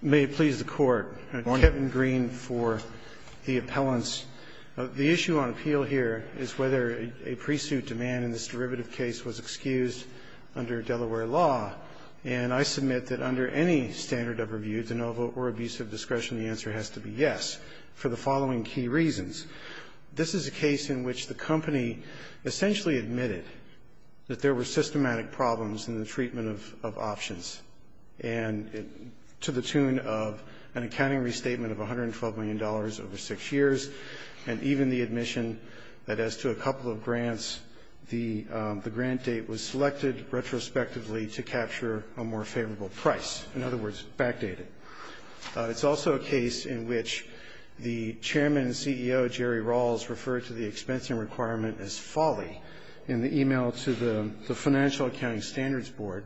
May it please the Court, Kevin Green for the appellants. The issue on appeal here is whether a pre-suit demand in this derivative case was excused under Delaware law. And I submit that under any standard of review, de novo, or abuse of discretion, the answer has to be yes for the following key reasons. This is a case in which the company essentially admitted that there were systematic problems in the treatment of options. And to the tune of an accounting restatement of $112 million over six years, and even the admission that as to a couple of grants, the grant date was selected retrospectively to capture a more favorable price. In other words, backdate it. It's also a case in which the chairman and CEO, Jerry Rawls, referred to the expensing requirement as folly in the e-mail to the Financial Accounting Standards Board,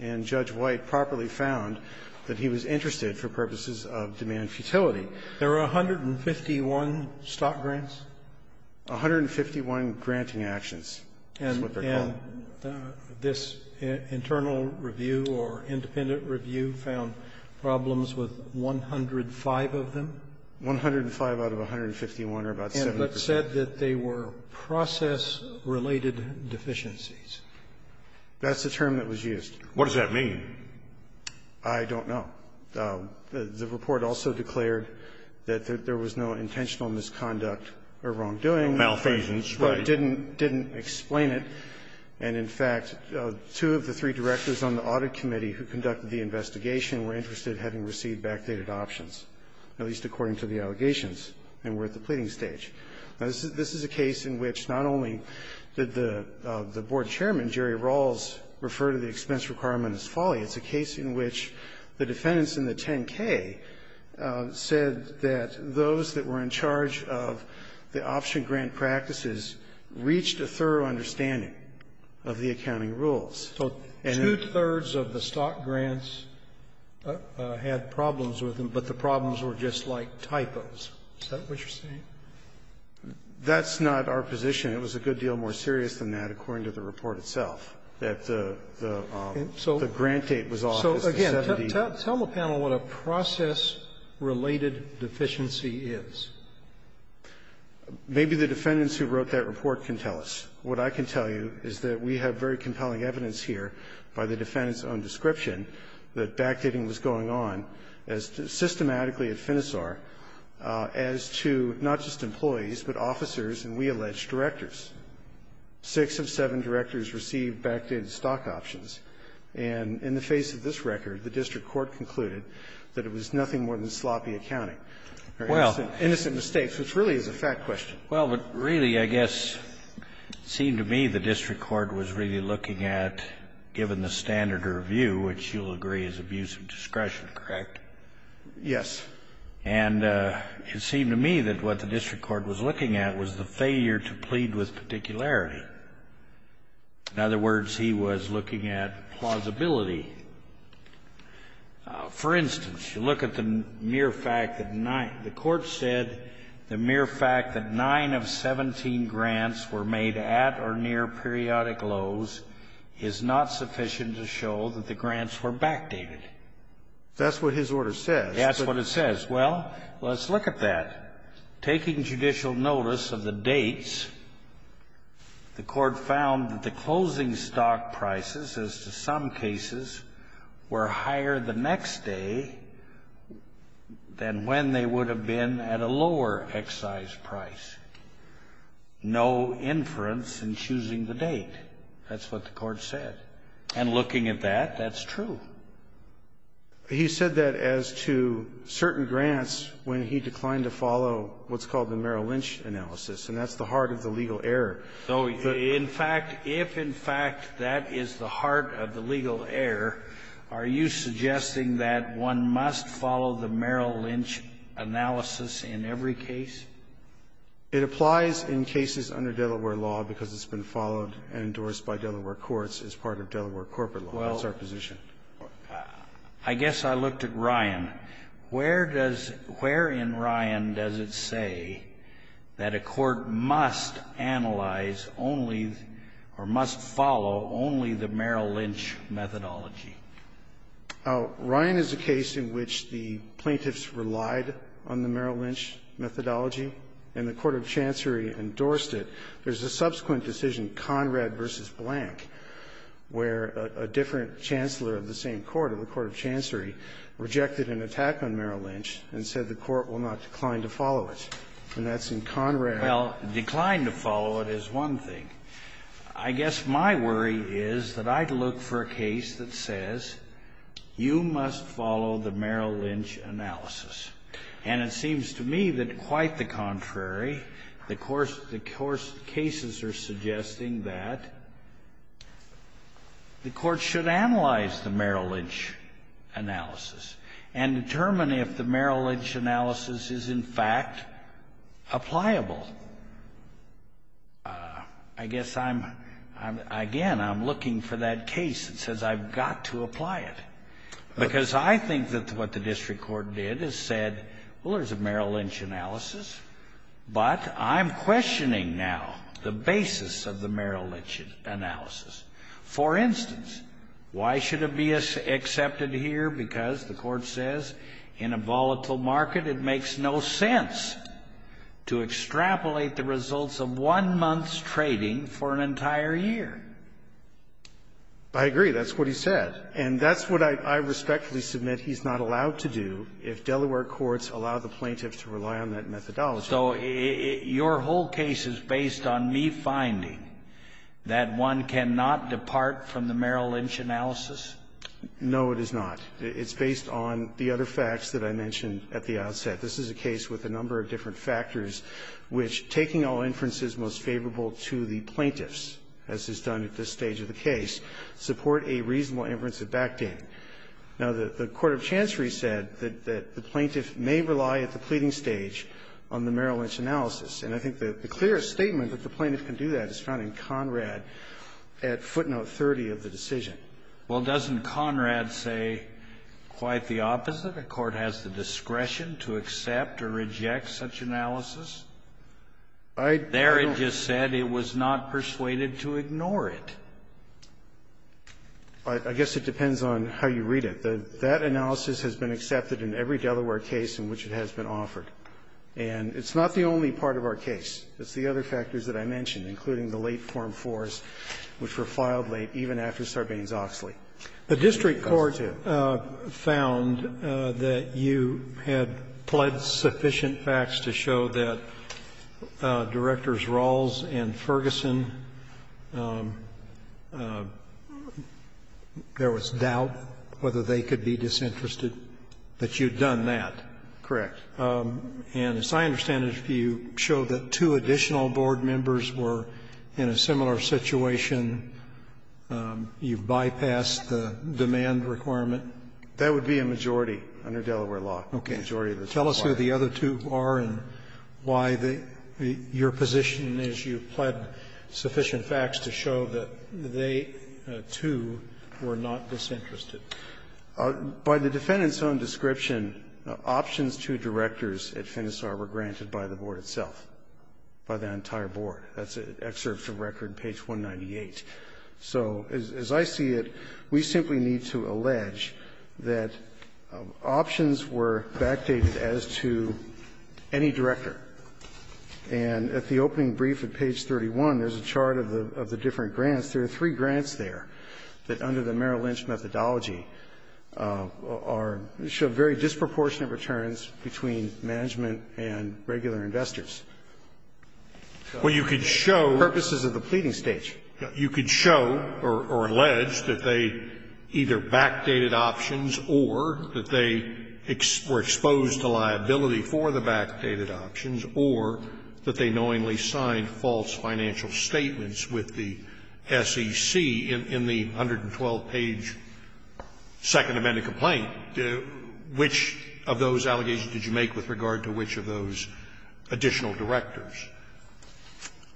and Judge White properly found that he was interested for purposes of demand futility. There are 151 stock grants? 151 granting actions is what they're called. And this internal review or independent review found problems with 105 of them? 105 out of 151 are about 70 percent. And it was said that they were process-related deficiencies. That's the term that was used. What does that mean? I don't know. The report also declared that there was no intentional misconduct or wrongdoing. Malfeasance, right. But it didn't explain it. And in fact, two of the three directors on the audit committee who conducted the investigation were interested in having received backdated options, at least according to the allegations, and were at the pleading stage. Now, this is a case in which not only did the board chairman, Jerry Rawls, refer to the expense requirement as folly, it's a case in which the defendants in the 10-K said that those that were in charge of the option grant practices reached a thorough understanding of the accounting rules. So two-thirds of the stock grants had problems with them, but the problems were just like typos. Is that what you're saying? That's not our position. It was a good deal more serious than that, according to the report itself, that the grant date was off. So again, tell the panel what a process-related deficiency is. Maybe the defendants who wrote that report can tell us. What I can tell you is that we have very compelling evidence here by the defendant's own description that backdating was going on as systematically at Finisar as to not just employees, but officers and, we allege, directors. Six of seven directors received backdated stock options. And in the face of this record, the district court concluded that it was nothing more than sloppy accounting or innocent mistakes, which really is a fact question. Well, but really, I guess, it seemed to me the district court was really looking at, given the standard of review, which you'll agree is abuse of discretion, correct? Yes. And it seemed to me that what the district court was looking at was the failure to plead with particularity. In other words, he was looking at plausibility. For instance, you look at the mere fact that nine of 17 grants were made at or near periodic lows is not sufficient to show that the grants were backdated. That's what his order says. That's what it says. Well, let's look at that. Taking judicial notice of the dates, the court found that the closing stock prices as to some cases were higher the next day than when they would have been at a lower excise price. No inference in choosing the date. That's what the court said. And looking at that, that's true. He said that as to certain grants when he declined to follow what's called the Merrill Lynch analysis, and that's the heart of the legal error. So in fact, if in fact that is the heart of the legal error, are you suggesting that one must follow the Merrill Lynch analysis in every case? It applies in cases under Delaware law because it's been followed and endorsed by Delaware courts as part of Delaware corporate law. That's our position. Well, I guess I looked at Ryan. Where does – where in Ryan does it say that a court must analyze only or must follow only the Merrill Lynch methodology? Ryan is a case in which the plaintiffs relied on the Merrill Lynch methodology and the court of chancery endorsed it. There's a subsequent decision, Conrad v. Blank, where a different chancellor of the same court, of the court of chancery, rejected an attack on Merrill Lynch and said the court will not decline to follow it. And that's in Conrad. Well, decline to follow it is one thing. I guess my worry is that I'd look for a case that says you must follow the Merrill Lynch analysis. And it seems to me that quite the contrary. The course – the cases are suggesting that the court should analyze the Merrill Lynch analysis and determine if the Merrill Lynch analysis is in fact appliable. I guess I'm – again, I'm looking for that case that says I've got to apply it. Because I think that what the district court did is said, well, there's a Merrill Lynch analysis, but I'm questioning now the basis of the Merrill Lynch analysis. For instance, why should it be accepted here? Because the court says in a volatile market, it makes no sense to extrapolate the results of one month's trading for an entire year. I agree. That's what he said. And that's what I respectfully submit he's not allowed to do if Delaware courts allow the plaintiffs to rely on that methodology. So your whole case is based on me finding that one cannot depart from the Merrill Lynch analysis? No, it is not. It's based on the other facts that I mentioned at the outset. This is a case with a number of different factors which, taking all inferences most favorable to the plaintiffs, as is done at this stage of the case, support a reasonable inference of backdating. Now, the Court of Chancery said that the plaintiff may rely at the pleading stage on the Merrill Lynch analysis. And I think the clearest statement that the plaintiff can do that is found in Conrad at footnote 30 of the decision. Well, doesn't Conrad say quite the opposite, a court has the discretion to accept or reject such analysis? I don't know. There it just said it was not persuaded to ignore it. I guess it depends on how you read it. That analysis has been accepted in every Delaware case in which it has been offered. And it's not the only part of our case. It's the other factors that I mentioned, including the late Form 4s, which were filed late even after Sarbanes-Oxley. The district court found that you had pled sufficient facts to show that Directors Rawls and Ferguson, there was doubt whether they could be disinterested, that you had done that. Correct. And as I understand it, you showed that two additional board members were in a similar situation. You bypassed the demand requirement. That would be a majority under Delaware law. Okay. Tell us who the other two are and why your position is you pled sufficient facts to show that they, too, were not disinterested. By the defendant's own description, options to directors at Phinasar were granted by the board itself, by the entire board. That's excerpt from record, page 198. So as I see it, we simply need to allege that options were backdated as to any director. And at the opening brief at page 31, there's a chart of the different grants. There are three grants there that under the Merrill Lynch methodology are to show very disproportionate returns between management and regular investors. Well, you could show purposes of the pleading stage. You could show or allege that they either backdated options or that they were exposed to liability for the backdated options or that they knowingly signed false financial statements with the SEC in the 112-page Second Amendment complaint. Which of those allegations did you make with regard to which of those additional directors?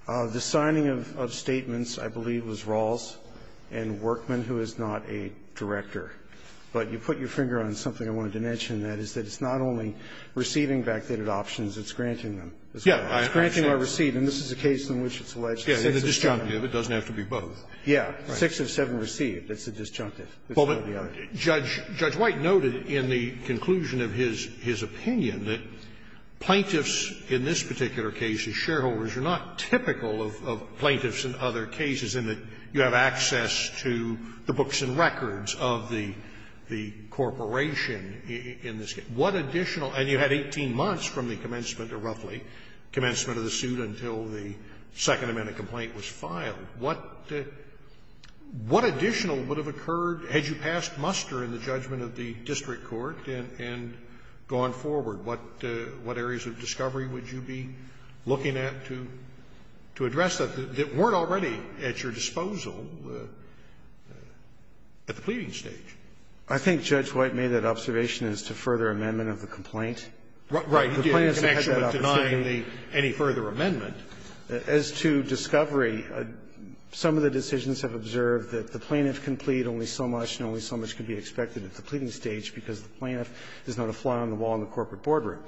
The signing of statements, I believe, was Rawls and Workman, who is not a director. But you put your finger on something I wanted to mention, and that is that it's not only receiving backdated options, it's granting them as well. It's granting a receipt. And this is a case in which it's alleged that it's a disjunctive. It doesn't have to be both. Yeah. Six of seven received. It's a disjunctive. It's one or the other. Judge White noted in the conclusion of his opinion that plaintiffs in this particular case, as shareholders, are not typical of plaintiffs in other cases in that you have access to the books and records of the corporation in this case. What additional – and you had 18 months from the commencement, or roughly, commencement of the suit until the Second Amendment complaint was filed. What additional would have occurred had you passed muster in the judgment of the district court and gone forward? What areas of discovery would you be looking at to address that, that weren't already at your disposal at the pleading stage? I think Judge White made that observation as to further amendment of the complaint. Right. You can actually deny any further amendment. As to discovery, some of the decisions have observed that the plaintiff can plead only so much and only so much can be expected at the pleading stage because the plaintiff is not a fly on the wall in the corporate boardroom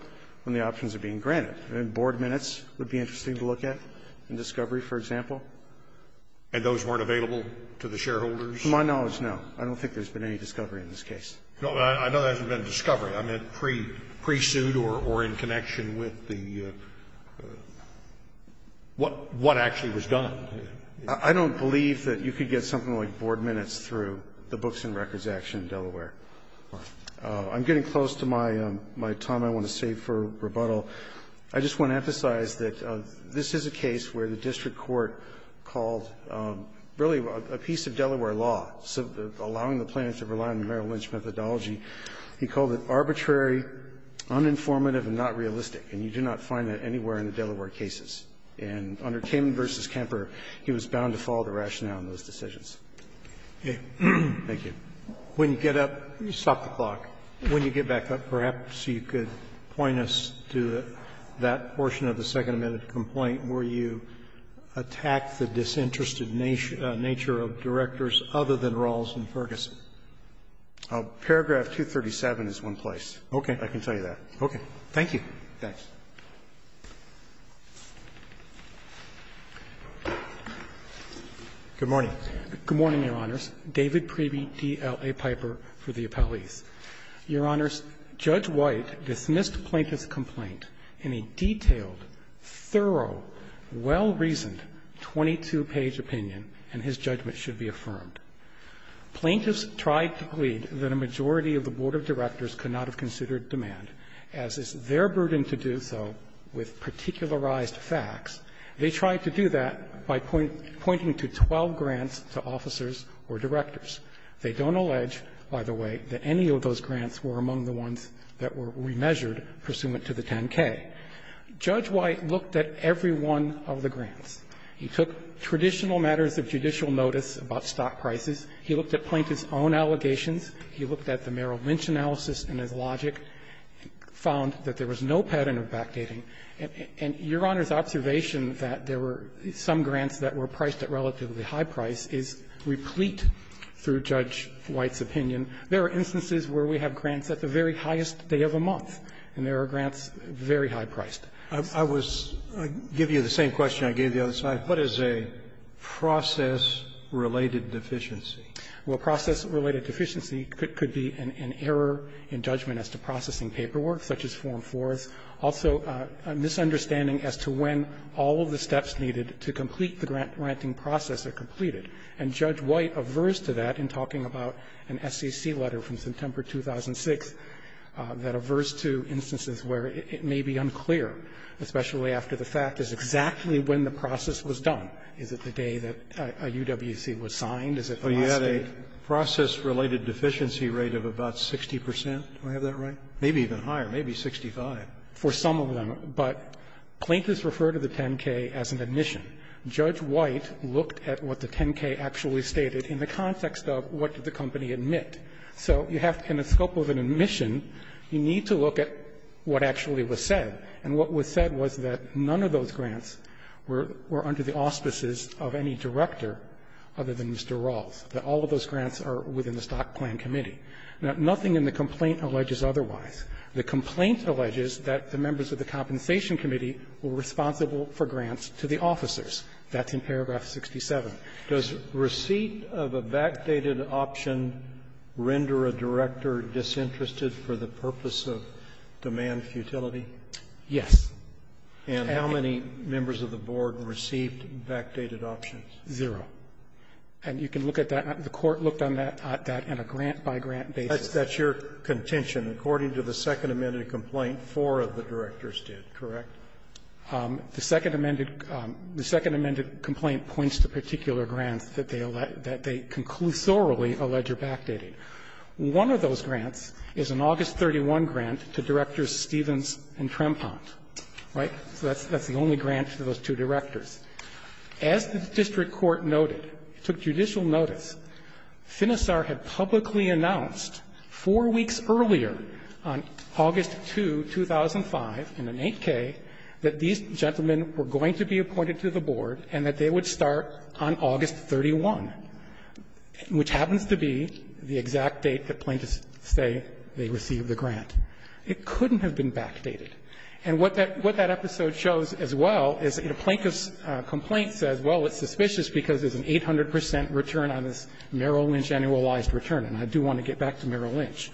when the options are being granted. And board minutes would be interesting to look at in discovery, for example. And those weren't available to the shareholders? To my knowledge, no. I don't think there's been any discovery in this case. I know there hasn't been a discovery. I meant pre-suit or in connection with the – what actually was done. I don't believe that you could get something like board minutes through the books and records action in Delaware. I'm getting close to my time I want to save for rebuttal. I just want to emphasize that this is a case where the district court called really a piece of Delaware law, allowing the plaintiff to rely on the Merrill Lynch methodology, he called it arbitrary, uninformative and not realistic. And you do not find that anywhere in the Delaware cases. And under Kamen v. Kemper, he was bound to follow the rationale in those decisions. Thank you. When you get up, stop the clock. When you get back up, perhaps you could point us to that portion of the second amendment complaint where you attack the disinterested nature of directors other than Rawls and Ferguson. Paragraph 237 is one place. Okay. I can tell you that. Okay. Thank you. Thanks. Good morning. Good morning, Your Honors. David Priebe, DLA Piper for the appellees. Your Honors, Judge White dismissed Plaintiff's complaint in a detailed, thorough, well-reasoned, 22-page opinion, and his judgment should be affirmed. Plaintiffs tried to plead that a majority of the board of directors could not have considered demand, as it's their burden to do so with particularized facts. They tried to do that by pointing to 12 grants to officers or directors. They don't allege, by the way, that any of those grants were among the ones that were remeasured pursuant to the 10-K. Judge White looked at every one of the grants. He took traditional matters of judicial notice about stock prices. He looked at Plaintiff's own allegations. He looked at the Merrill Lynch analysis and his logic, found that there was no pattern of backdating. And Your Honors' observation that there were some grants that were priced at relatively high price is replete through Judge White's opinion. There are instances where we have grants at the very highest day of the month, and there are grants very high-priced. I was going to give you the same question I gave the other side. What is a process-related deficiency? Well, a process-related deficiency could be an error in judgment as to processing paperwork, such as Form 4. Also, a misunderstanding as to when all of the steps needed to complete the grant granting process are completed. And Judge White aversed to that in talking about an SEC letter from September 2006 that aversed to instances where it may be unclear, especially after the fact is exactly when the process was done. Is it the day that a UWC was signed? Is it the last day? Roberts, Well, you had a process-related deficiency rate of about 60 percent. Do I have that right? Maybe even higher. Maybe 65. For some of them, but plaintiffs refer to the 10-K as an admission. Judge White looked at what the 10-K actually stated in the context of what did the company admit. So you have, in the scope of an admission, you need to look at what actually was said. And what was said was that none of those grants were under the auspices of any director other than Mr. Rawls, that all of those grants are within the Stock Plan Committee. Now, nothing in the complaint alleges otherwise. The complaint alleges that the members of the Compensation Committee were responsible for grants to the officers. That's in paragraph 67. Roberts, does receipt of a backdated option render a director disinterested for the purpose of demand futility? Yes. And how many members of the board received backdated options? Zero. And you can look at that. The Court looked at that in a grant-by-grant basis. That's your contention. According to the Second Amended Complaint, four of the directors did, correct? The Second Amended Complaint points to particular grants that they conclusorally allege are backdated. One of those grants is an August 31 grant to Directors Stevens and Trempont, right? So that's the only grant to those two directors. As the district court noted, it took judicial notice, Finisar had publicly announced four weeks earlier on August 2, 2005, in an 8K, that these gentlemen were going to be appointed to the board and that they would start on August 31, which happens to be the exact date that plaintiffs say they received the grant. It couldn't have been backdated. And what that episode shows as well is that a plaintiff's complaint says, well, it's suspicious because there's an 800 percent return on this Merrill Lynch annualized return. And I do want to get back to Merrill Lynch.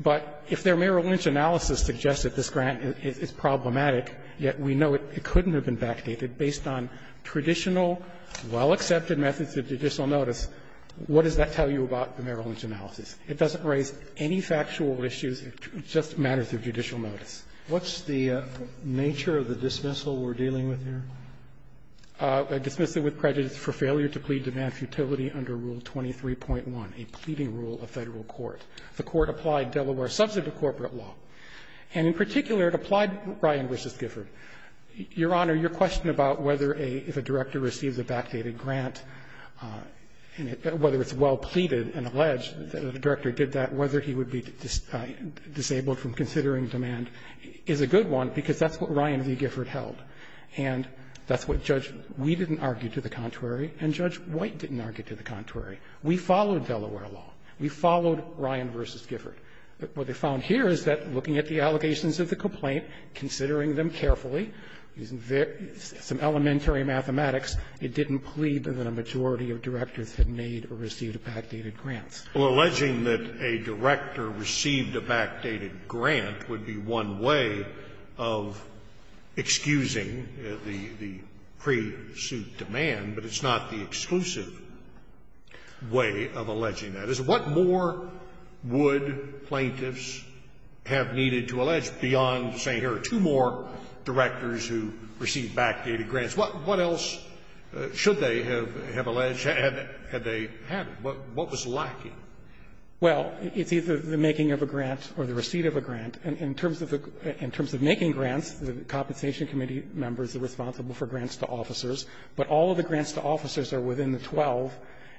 But if their Merrill Lynch analysis suggests that this grant is problematic, yet we know it couldn't have been backdated based on traditional, well-accepted methods of judicial notice, what does that tell you about the Merrill Lynch analysis? It doesn't raise any factual issues. It just matters of judicial notice. Roberts. What's the nature of the dismissal we're dealing with here? A dismissal with prejudice for failure to plead to man's futility under Rule 23.1, a pleading rule of Federal court. The Court applied Delaware substantive corporate law. And in particular, it applied Ryan v. Gifford. Your Honor, your question about whether a – if a director receives a backdated grant, whether it's well pleaded and alleged, the director did that, whether he would be disabled from considering demand is a good one, because that's what Ryan v. Gifford held. And that's what Judge Wee didn't argue to the contrary, and Judge White didn't argue to the contrary. We followed Delaware law. We followed Ryan v. Gifford. But what they found here is that, looking at the allegations of the complaint, considering them carefully, using some elementary mathematics, it didn't plead that a majority of directors had made or received backdated grants. Well, alleging that a director received a backdated grant would be one way of excusing the pre-suit demand, but it's not the exclusive. The exclusive way of alleging that is what more would plaintiffs have needed to allege beyond saying here are two more directors who received backdated grants? What else should they have alleged had they had them? What was lacking? Well, it's either the making of a grant or the receipt of a grant. In terms of making grants, the compensation committee members are responsible for grants to officers. But all of the grants to officers are within the 12,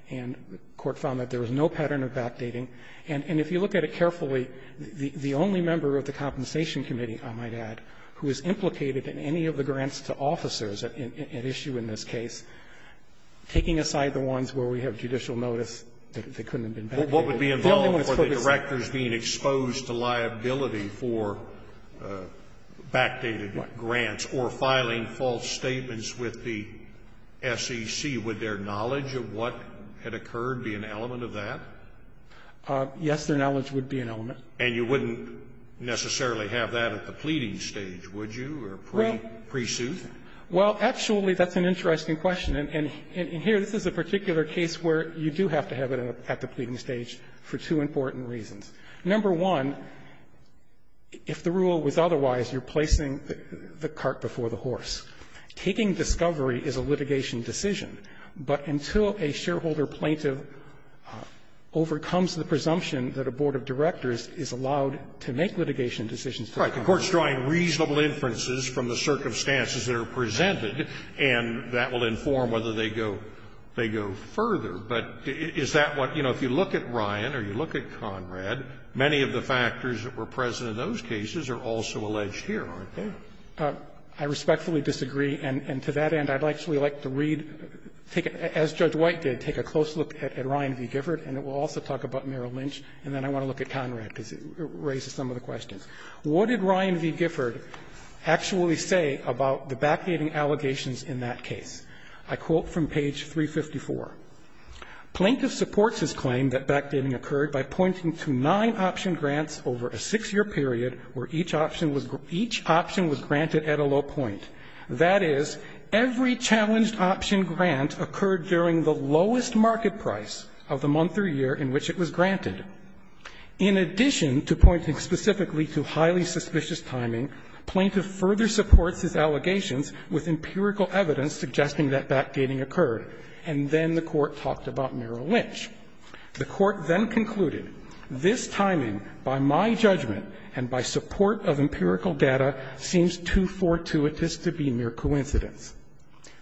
and the Court found that there was no pattern of backdating. And if you look at it carefully, the only member of the compensation committee, I might add, who is implicated in any of the grants to officers at issue in this case, taking aside the ones where we have judicial notice that couldn't have been backdated. What would be involved for the directors being exposed to liability for backdated grants or filing false statements with the SEC, would their knowledge of what had occurred be an element of that? Yes, their knowledge would be an element. And you wouldn't necessarily have that at the pleading stage, would you, or pre-suit? Well, actually, that's an interesting question. And here, this is a particular case where you do have to have it at the pleading stage for two important reasons. Number one, if the rule was otherwise, you're placing the cart before the horse. Taking discovery is a litigation decision. But until a shareholder plaintiff overcomes the presumption that a board of directors is allowed to make litigation decisions to the contrary. All right. The Court's drawing reasonable inferences from the circumstances that are presented, and that will inform whether they go further. But is that what, you know, if you look at Ryan or you look at Conrad, many of the factors that were present in those cases are also alleged here, aren't they? I respectfully disagree. And to that end, I'd actually like to read, as Judge White did, take a close look at Ryan v. Gifford, and it will also talk about Merrill Lynch, and then I want to look at Conrad, because it raises some of the questions. What did Ryan v. Gifford actually say about the backdating allegations in that case? I quote from page 354. Plaintiff supports his claim that backdating occurred by pointing to nine option grants over a six-year period where each option was granted at a low point. That is, every challenged option grant occurred during the lowest market price of the month or year in which it was granted. In addition to pointing specifically to highly suspicious timing, plaintiff further supports his allegations with empirical evidence suggesting that backdating occurred, and then the Court talked about Merrill Lynch. The Court then concluded, this timing, by my judgment and by support of empirical data, seems too fortuitous to be mere coincidence.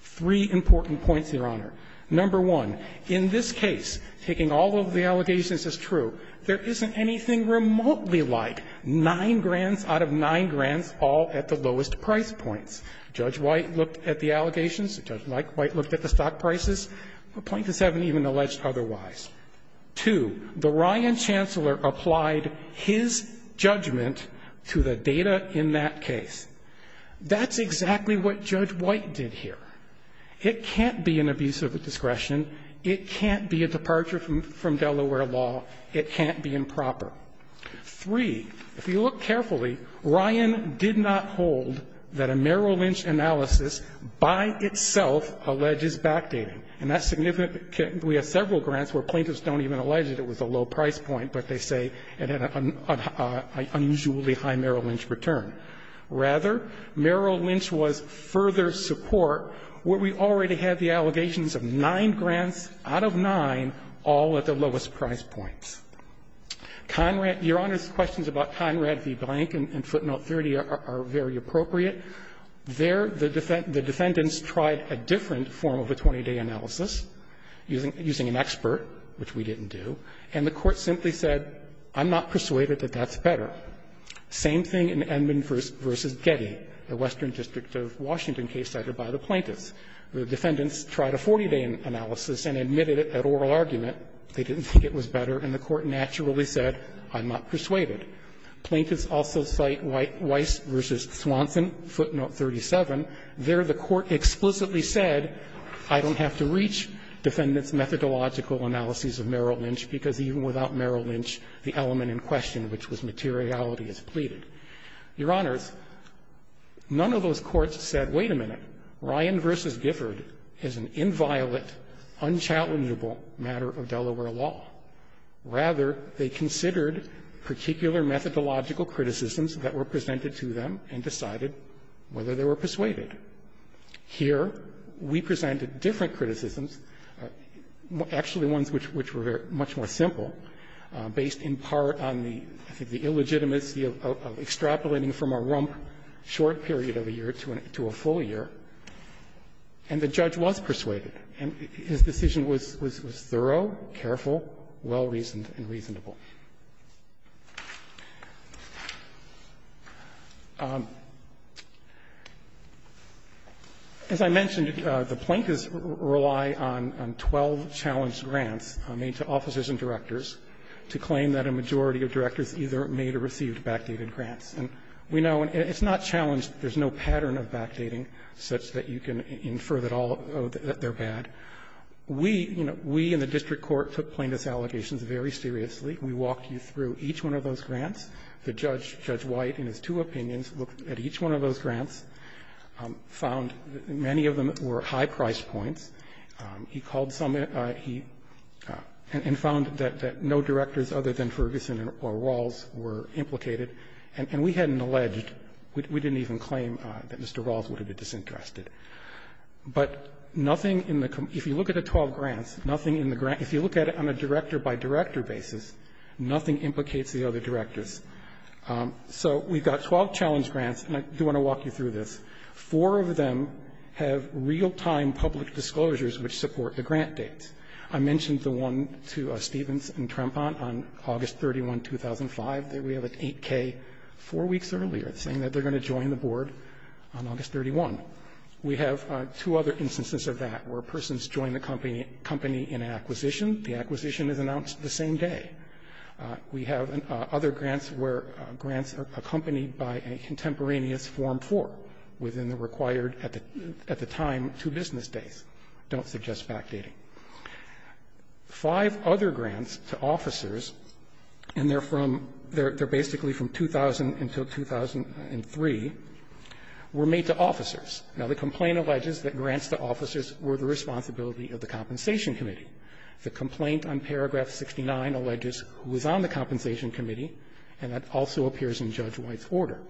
Three important points, Your Honor. Number one, in this case, taking all of the allegations as true, there isn't anything remotely like nine grants out of nine grants all at the lowest price points. Judge White looked at the allegations. Judge Mike White looked at the stock prices. Plaintiffs haven't even alleged otherwise. Two, the Ryan chancellor applied his judgment to the data in that case. That's exactly what Judge White did here. It can't be an abuse of discretion. It can't be a departure from Delaware law. It can't be improper. Three, if you look carefully, Ryan did not hold that a Merrill Lynch analysis by itself alleges backdating. And that's significant. We have several grants where plaintiffs don't even allege that it was a low price point, but they say it had an unusually high Merrill Lynch return. Rather, Merrill Lynch was further support where we already had the allegations of nine grants out of nine all at the lowest price points. Your Honor's questions about Conrad v. Blank and footnote 30 are very appropriate. There, the defendants tried a different form of a 20-day analysis using an expert, which we didn't do, and the Court simply said, I'm not persuaded that that's better. Same thing in Edmond v. Getty, the Western District of Washington case cited by the plaintiffs. The defendants tried a 40-day analysis and admitted it at oral argument. They didn't think it was better, and the Court naturally said, I'm not persuaded. Plaintiffs also cite Weiss v. Swanson, footnote 37. There, the Court explicitly said, I don't have to reach defendants' methodological analyses of Merrill Lynch because even without Merrill Lynch, the element in question, which was materiality, is pleaded. Your Honors, none of those courts said, wait a minute, Ryan v. Gifford is an inviolate, unchallengeable matter of Delaware law. Rather, they considered particular methodological criticisms that were presented to them and decided whether they were persuaded. Here, we presented different criticisms, actually ones which were much more simple, based in part on the illegitimacy of extrapolating from a rump short period of a year to a full year, and the judge was persuaded. And his decision was thorough, careful, well-reasoned, and reasonable. As I mentioned, the Plaintiffs rely on 12 challenged grants made to officers and directors to claim that a majority of directors either made or received backdated grants. And we know it's not challenged. There's no pattern of backdating such that you can infer that all of them are bad. We, you know, we in the district court took Plaintiffs' allegations very seriously. We walked you through each one of those grants. The judge, Judge White, in his two opinions, looked at each one of those grants, found that many of them were high-priced points. He called some of them, and found that no directors other than Ferguson or Walls were implicated. And we hadn't alleged, we didn't even claim that Mr. Walls would have been disinterested. But nothing in the com-if you look at the 12 grants, nothing in the grant, if you look at it on a director-by-director basis, nothing implicates the other directors. So we've got 12 challenge grants, and I do want to walk you through this. Four of them have real-time public disclosures which support the grant dates. I mentioned the one to Stevens and Trempont on August 31, 2005. We have an 8K four weeks earlier saying that they're going to join the board on August 31. We have two other instances of that, where a person has joined the company in acquisition. The acquisition is announced the same day. We have other grants where grants are accompanied by a contemporaneous Form 4 within the required, at the time, two business days. I don't suggest backdating. Five other grants to officers, and they're from they're basically from 2000 until 2003, were made to officers. Now, the complaint alleges that grants to officers were the responsibility of the Compensation Committee. The complaint on paragraph 69 alleges who was on the Compensation Committee, and that also appears in Judge White's order.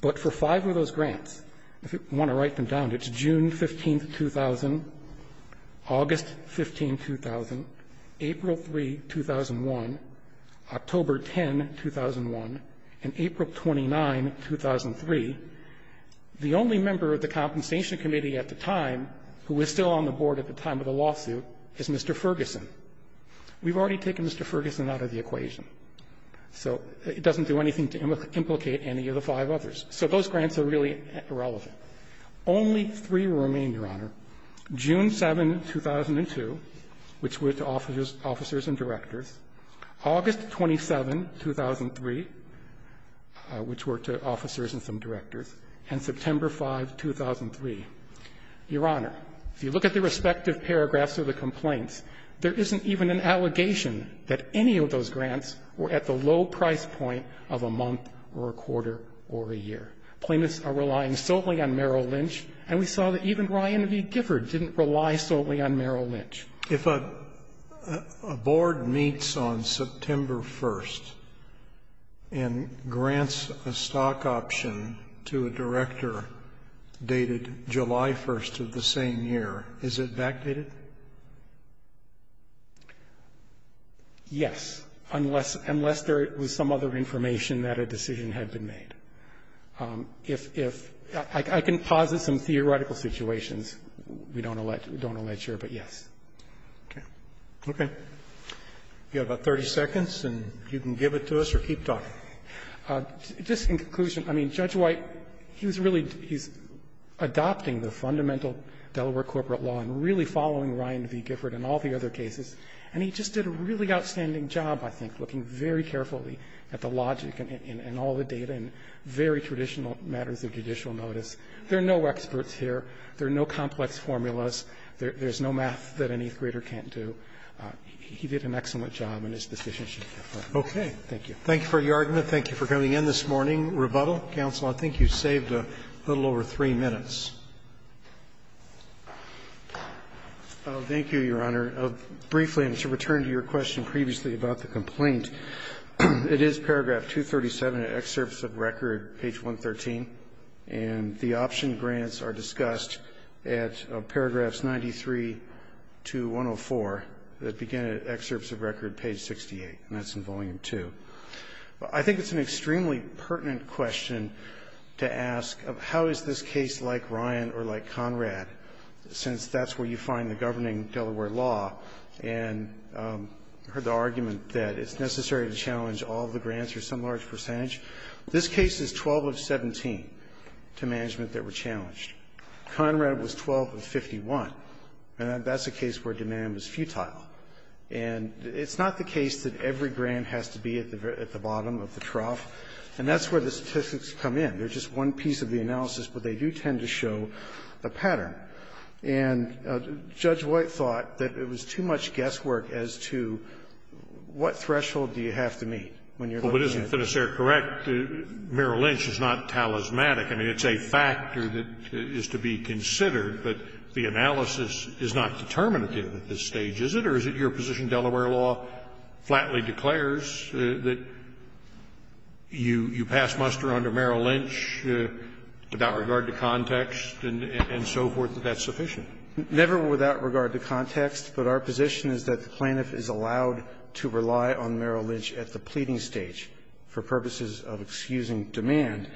But for five of those grants, if you want to write them down, it's June 15, 2000, August 15, 2000, April 3, 2001, October 10, 2001, and April 29, 2003, the only member of the Compensation Committee at the time, who was still on the board at the time of the lawsuit, is Mr. Ferguson. We've already taken Mr. Ferguson out of the equation. So it doesn't do anything to implicate any of the five others. So those grants are really irrelevant. Only three remain, Your Honor. June 7, 2002, which were to officers and directors, August 27, 2003, which were to officers and some directors, and September 5, 2003. Your Honor, if you look at the respective paragraphs of the complaints, there isn't even an allegation that any of those grants were at the low price point of a month or a quarter or a year. Plaintiffs are relying solely on Merrill Lynch, and we saw that even Ryan V. Gifford didn't rely solely on Merrill Lynch. If a board meets on September 1st and grants a stock option to a director dated July 1st of the same year, is it backdated? Yes, unless there was some other information that a decision had been made. If – I can posit some theoretical situations we don't allege here, but yes. Okay. Okay. You have about 30 seconds, and you can give it to us or keep talking. Just in conclusion, I mean, Judge White, he was really – he's adopting the fundamental Delaware corporate law and really following Ryan V. Gifford and all the other cases, and he just did a really outstanding job, I think, looking very carefully at the logic and all the data and very traditional matters of judicial notice. There are no experts here. There are no complex formulas. There's no math that an 8th grader can't do. He did an excellent job in his position. Okay. Thank you. Thank you for your argument. Thank you for coming in this morning. Rebuttal, counsel. I think you saved a little over 3 minutes. Thank you, Your Honor. Briefly, and to return to your question previously about the complaint, it is paragraph 237 of excerpts of record, page 113, and the option grants are discussed at paragraphs 93 to 104 that begin at excerpts of record, page 68, and that's in volume 2. I think it's an extremely pertinent question to ask of how is this case like Ryan or like law and heard the argument that it's necessary to challenge all the grants or some large percentage. This case is 12 of 17 to management that were challenged. Conrad was 12 of 51, and that's a case where demand was futile. And it's not the case that every grant has to be at the bottom of the trough, and that's where the statistics come in. They're just one piece of the analysis, but they do tend to show a pattern. And Judge White thought that it was too much guesswork as to what threshold do you have to meet when you're looking at it. Well, but isn't Finisare correct? Merrill Lynch is not talismanic. I mean, it's a factor that is to be considered, but the analysis is not determinative at this stage, is it? Or is it your position Delaware law flatly declares that you pass muster under Merrill Lynch without regard to context and so forth, that that's sufficient? Never without regard to context, but our position is that the plaintiff is allowed to rely on Merrill Lynch at the pleading stage for purposes of excusing demand,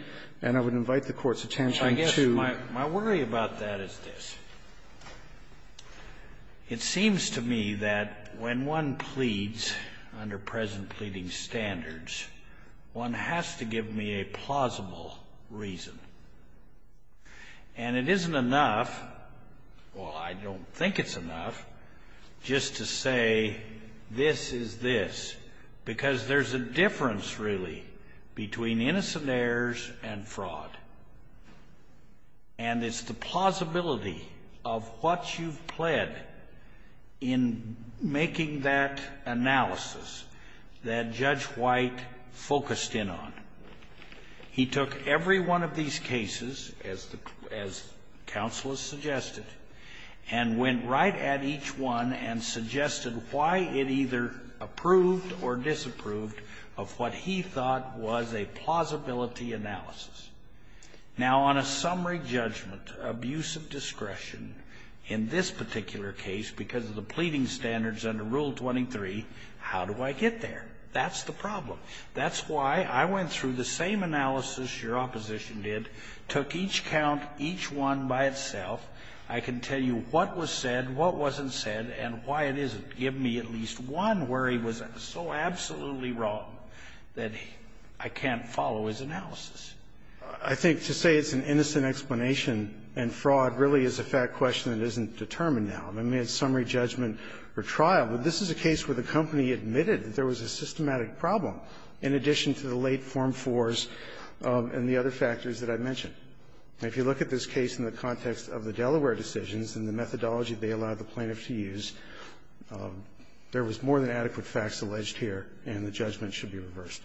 and I would invite the Court's attention to the plaintiff's position. Scalia, I guess my worry about that is this. It seems to me that when one pleads under present pleading standards, one has to give me a plausible reason. And it isn't enough, well, I don't think it's enough, just to say this is this, because there's a difference, really, between innocent heirs and fraud. And it's the plausibility of what you've pled in making that analysis that Judge White focused in on. He took every one of these cases, as the Counsel has suggested, and went right at each one and suggested why it either approved or disapproved of what he thought was a plausibility analysis. Now, on a summary judgment, abuse of discretion in this particular case because of the pleading standards under Rule 23, how do I get there? That's the problem. That's why I went through the same analysis your opposition did, took each count, each one by itself. I can tell you what was said, what wasn't said, and why it isn't. Give me at least one where he was so absolutely wrong that I can't follow his analysis. I think to say it's an innocent explanation and fraud really is a fact question that isn't determined now. I mean, it's summary judgment or trial. This is a case where the company admitted that there was a systematic problem in addition to the late Form 4s and the other factors that I mentioned. And if you look at this case in the context of the Delaware decisions and the methodology they allowed the plaintiff to use, there was more than adequate facts alleged here, and the judgment should be reversed.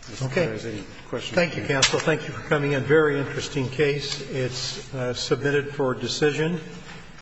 I don't know if there's any questions. Roberts. Thank you, counsel. Thank you for coming in. Very interesting case. It's submitted for decision.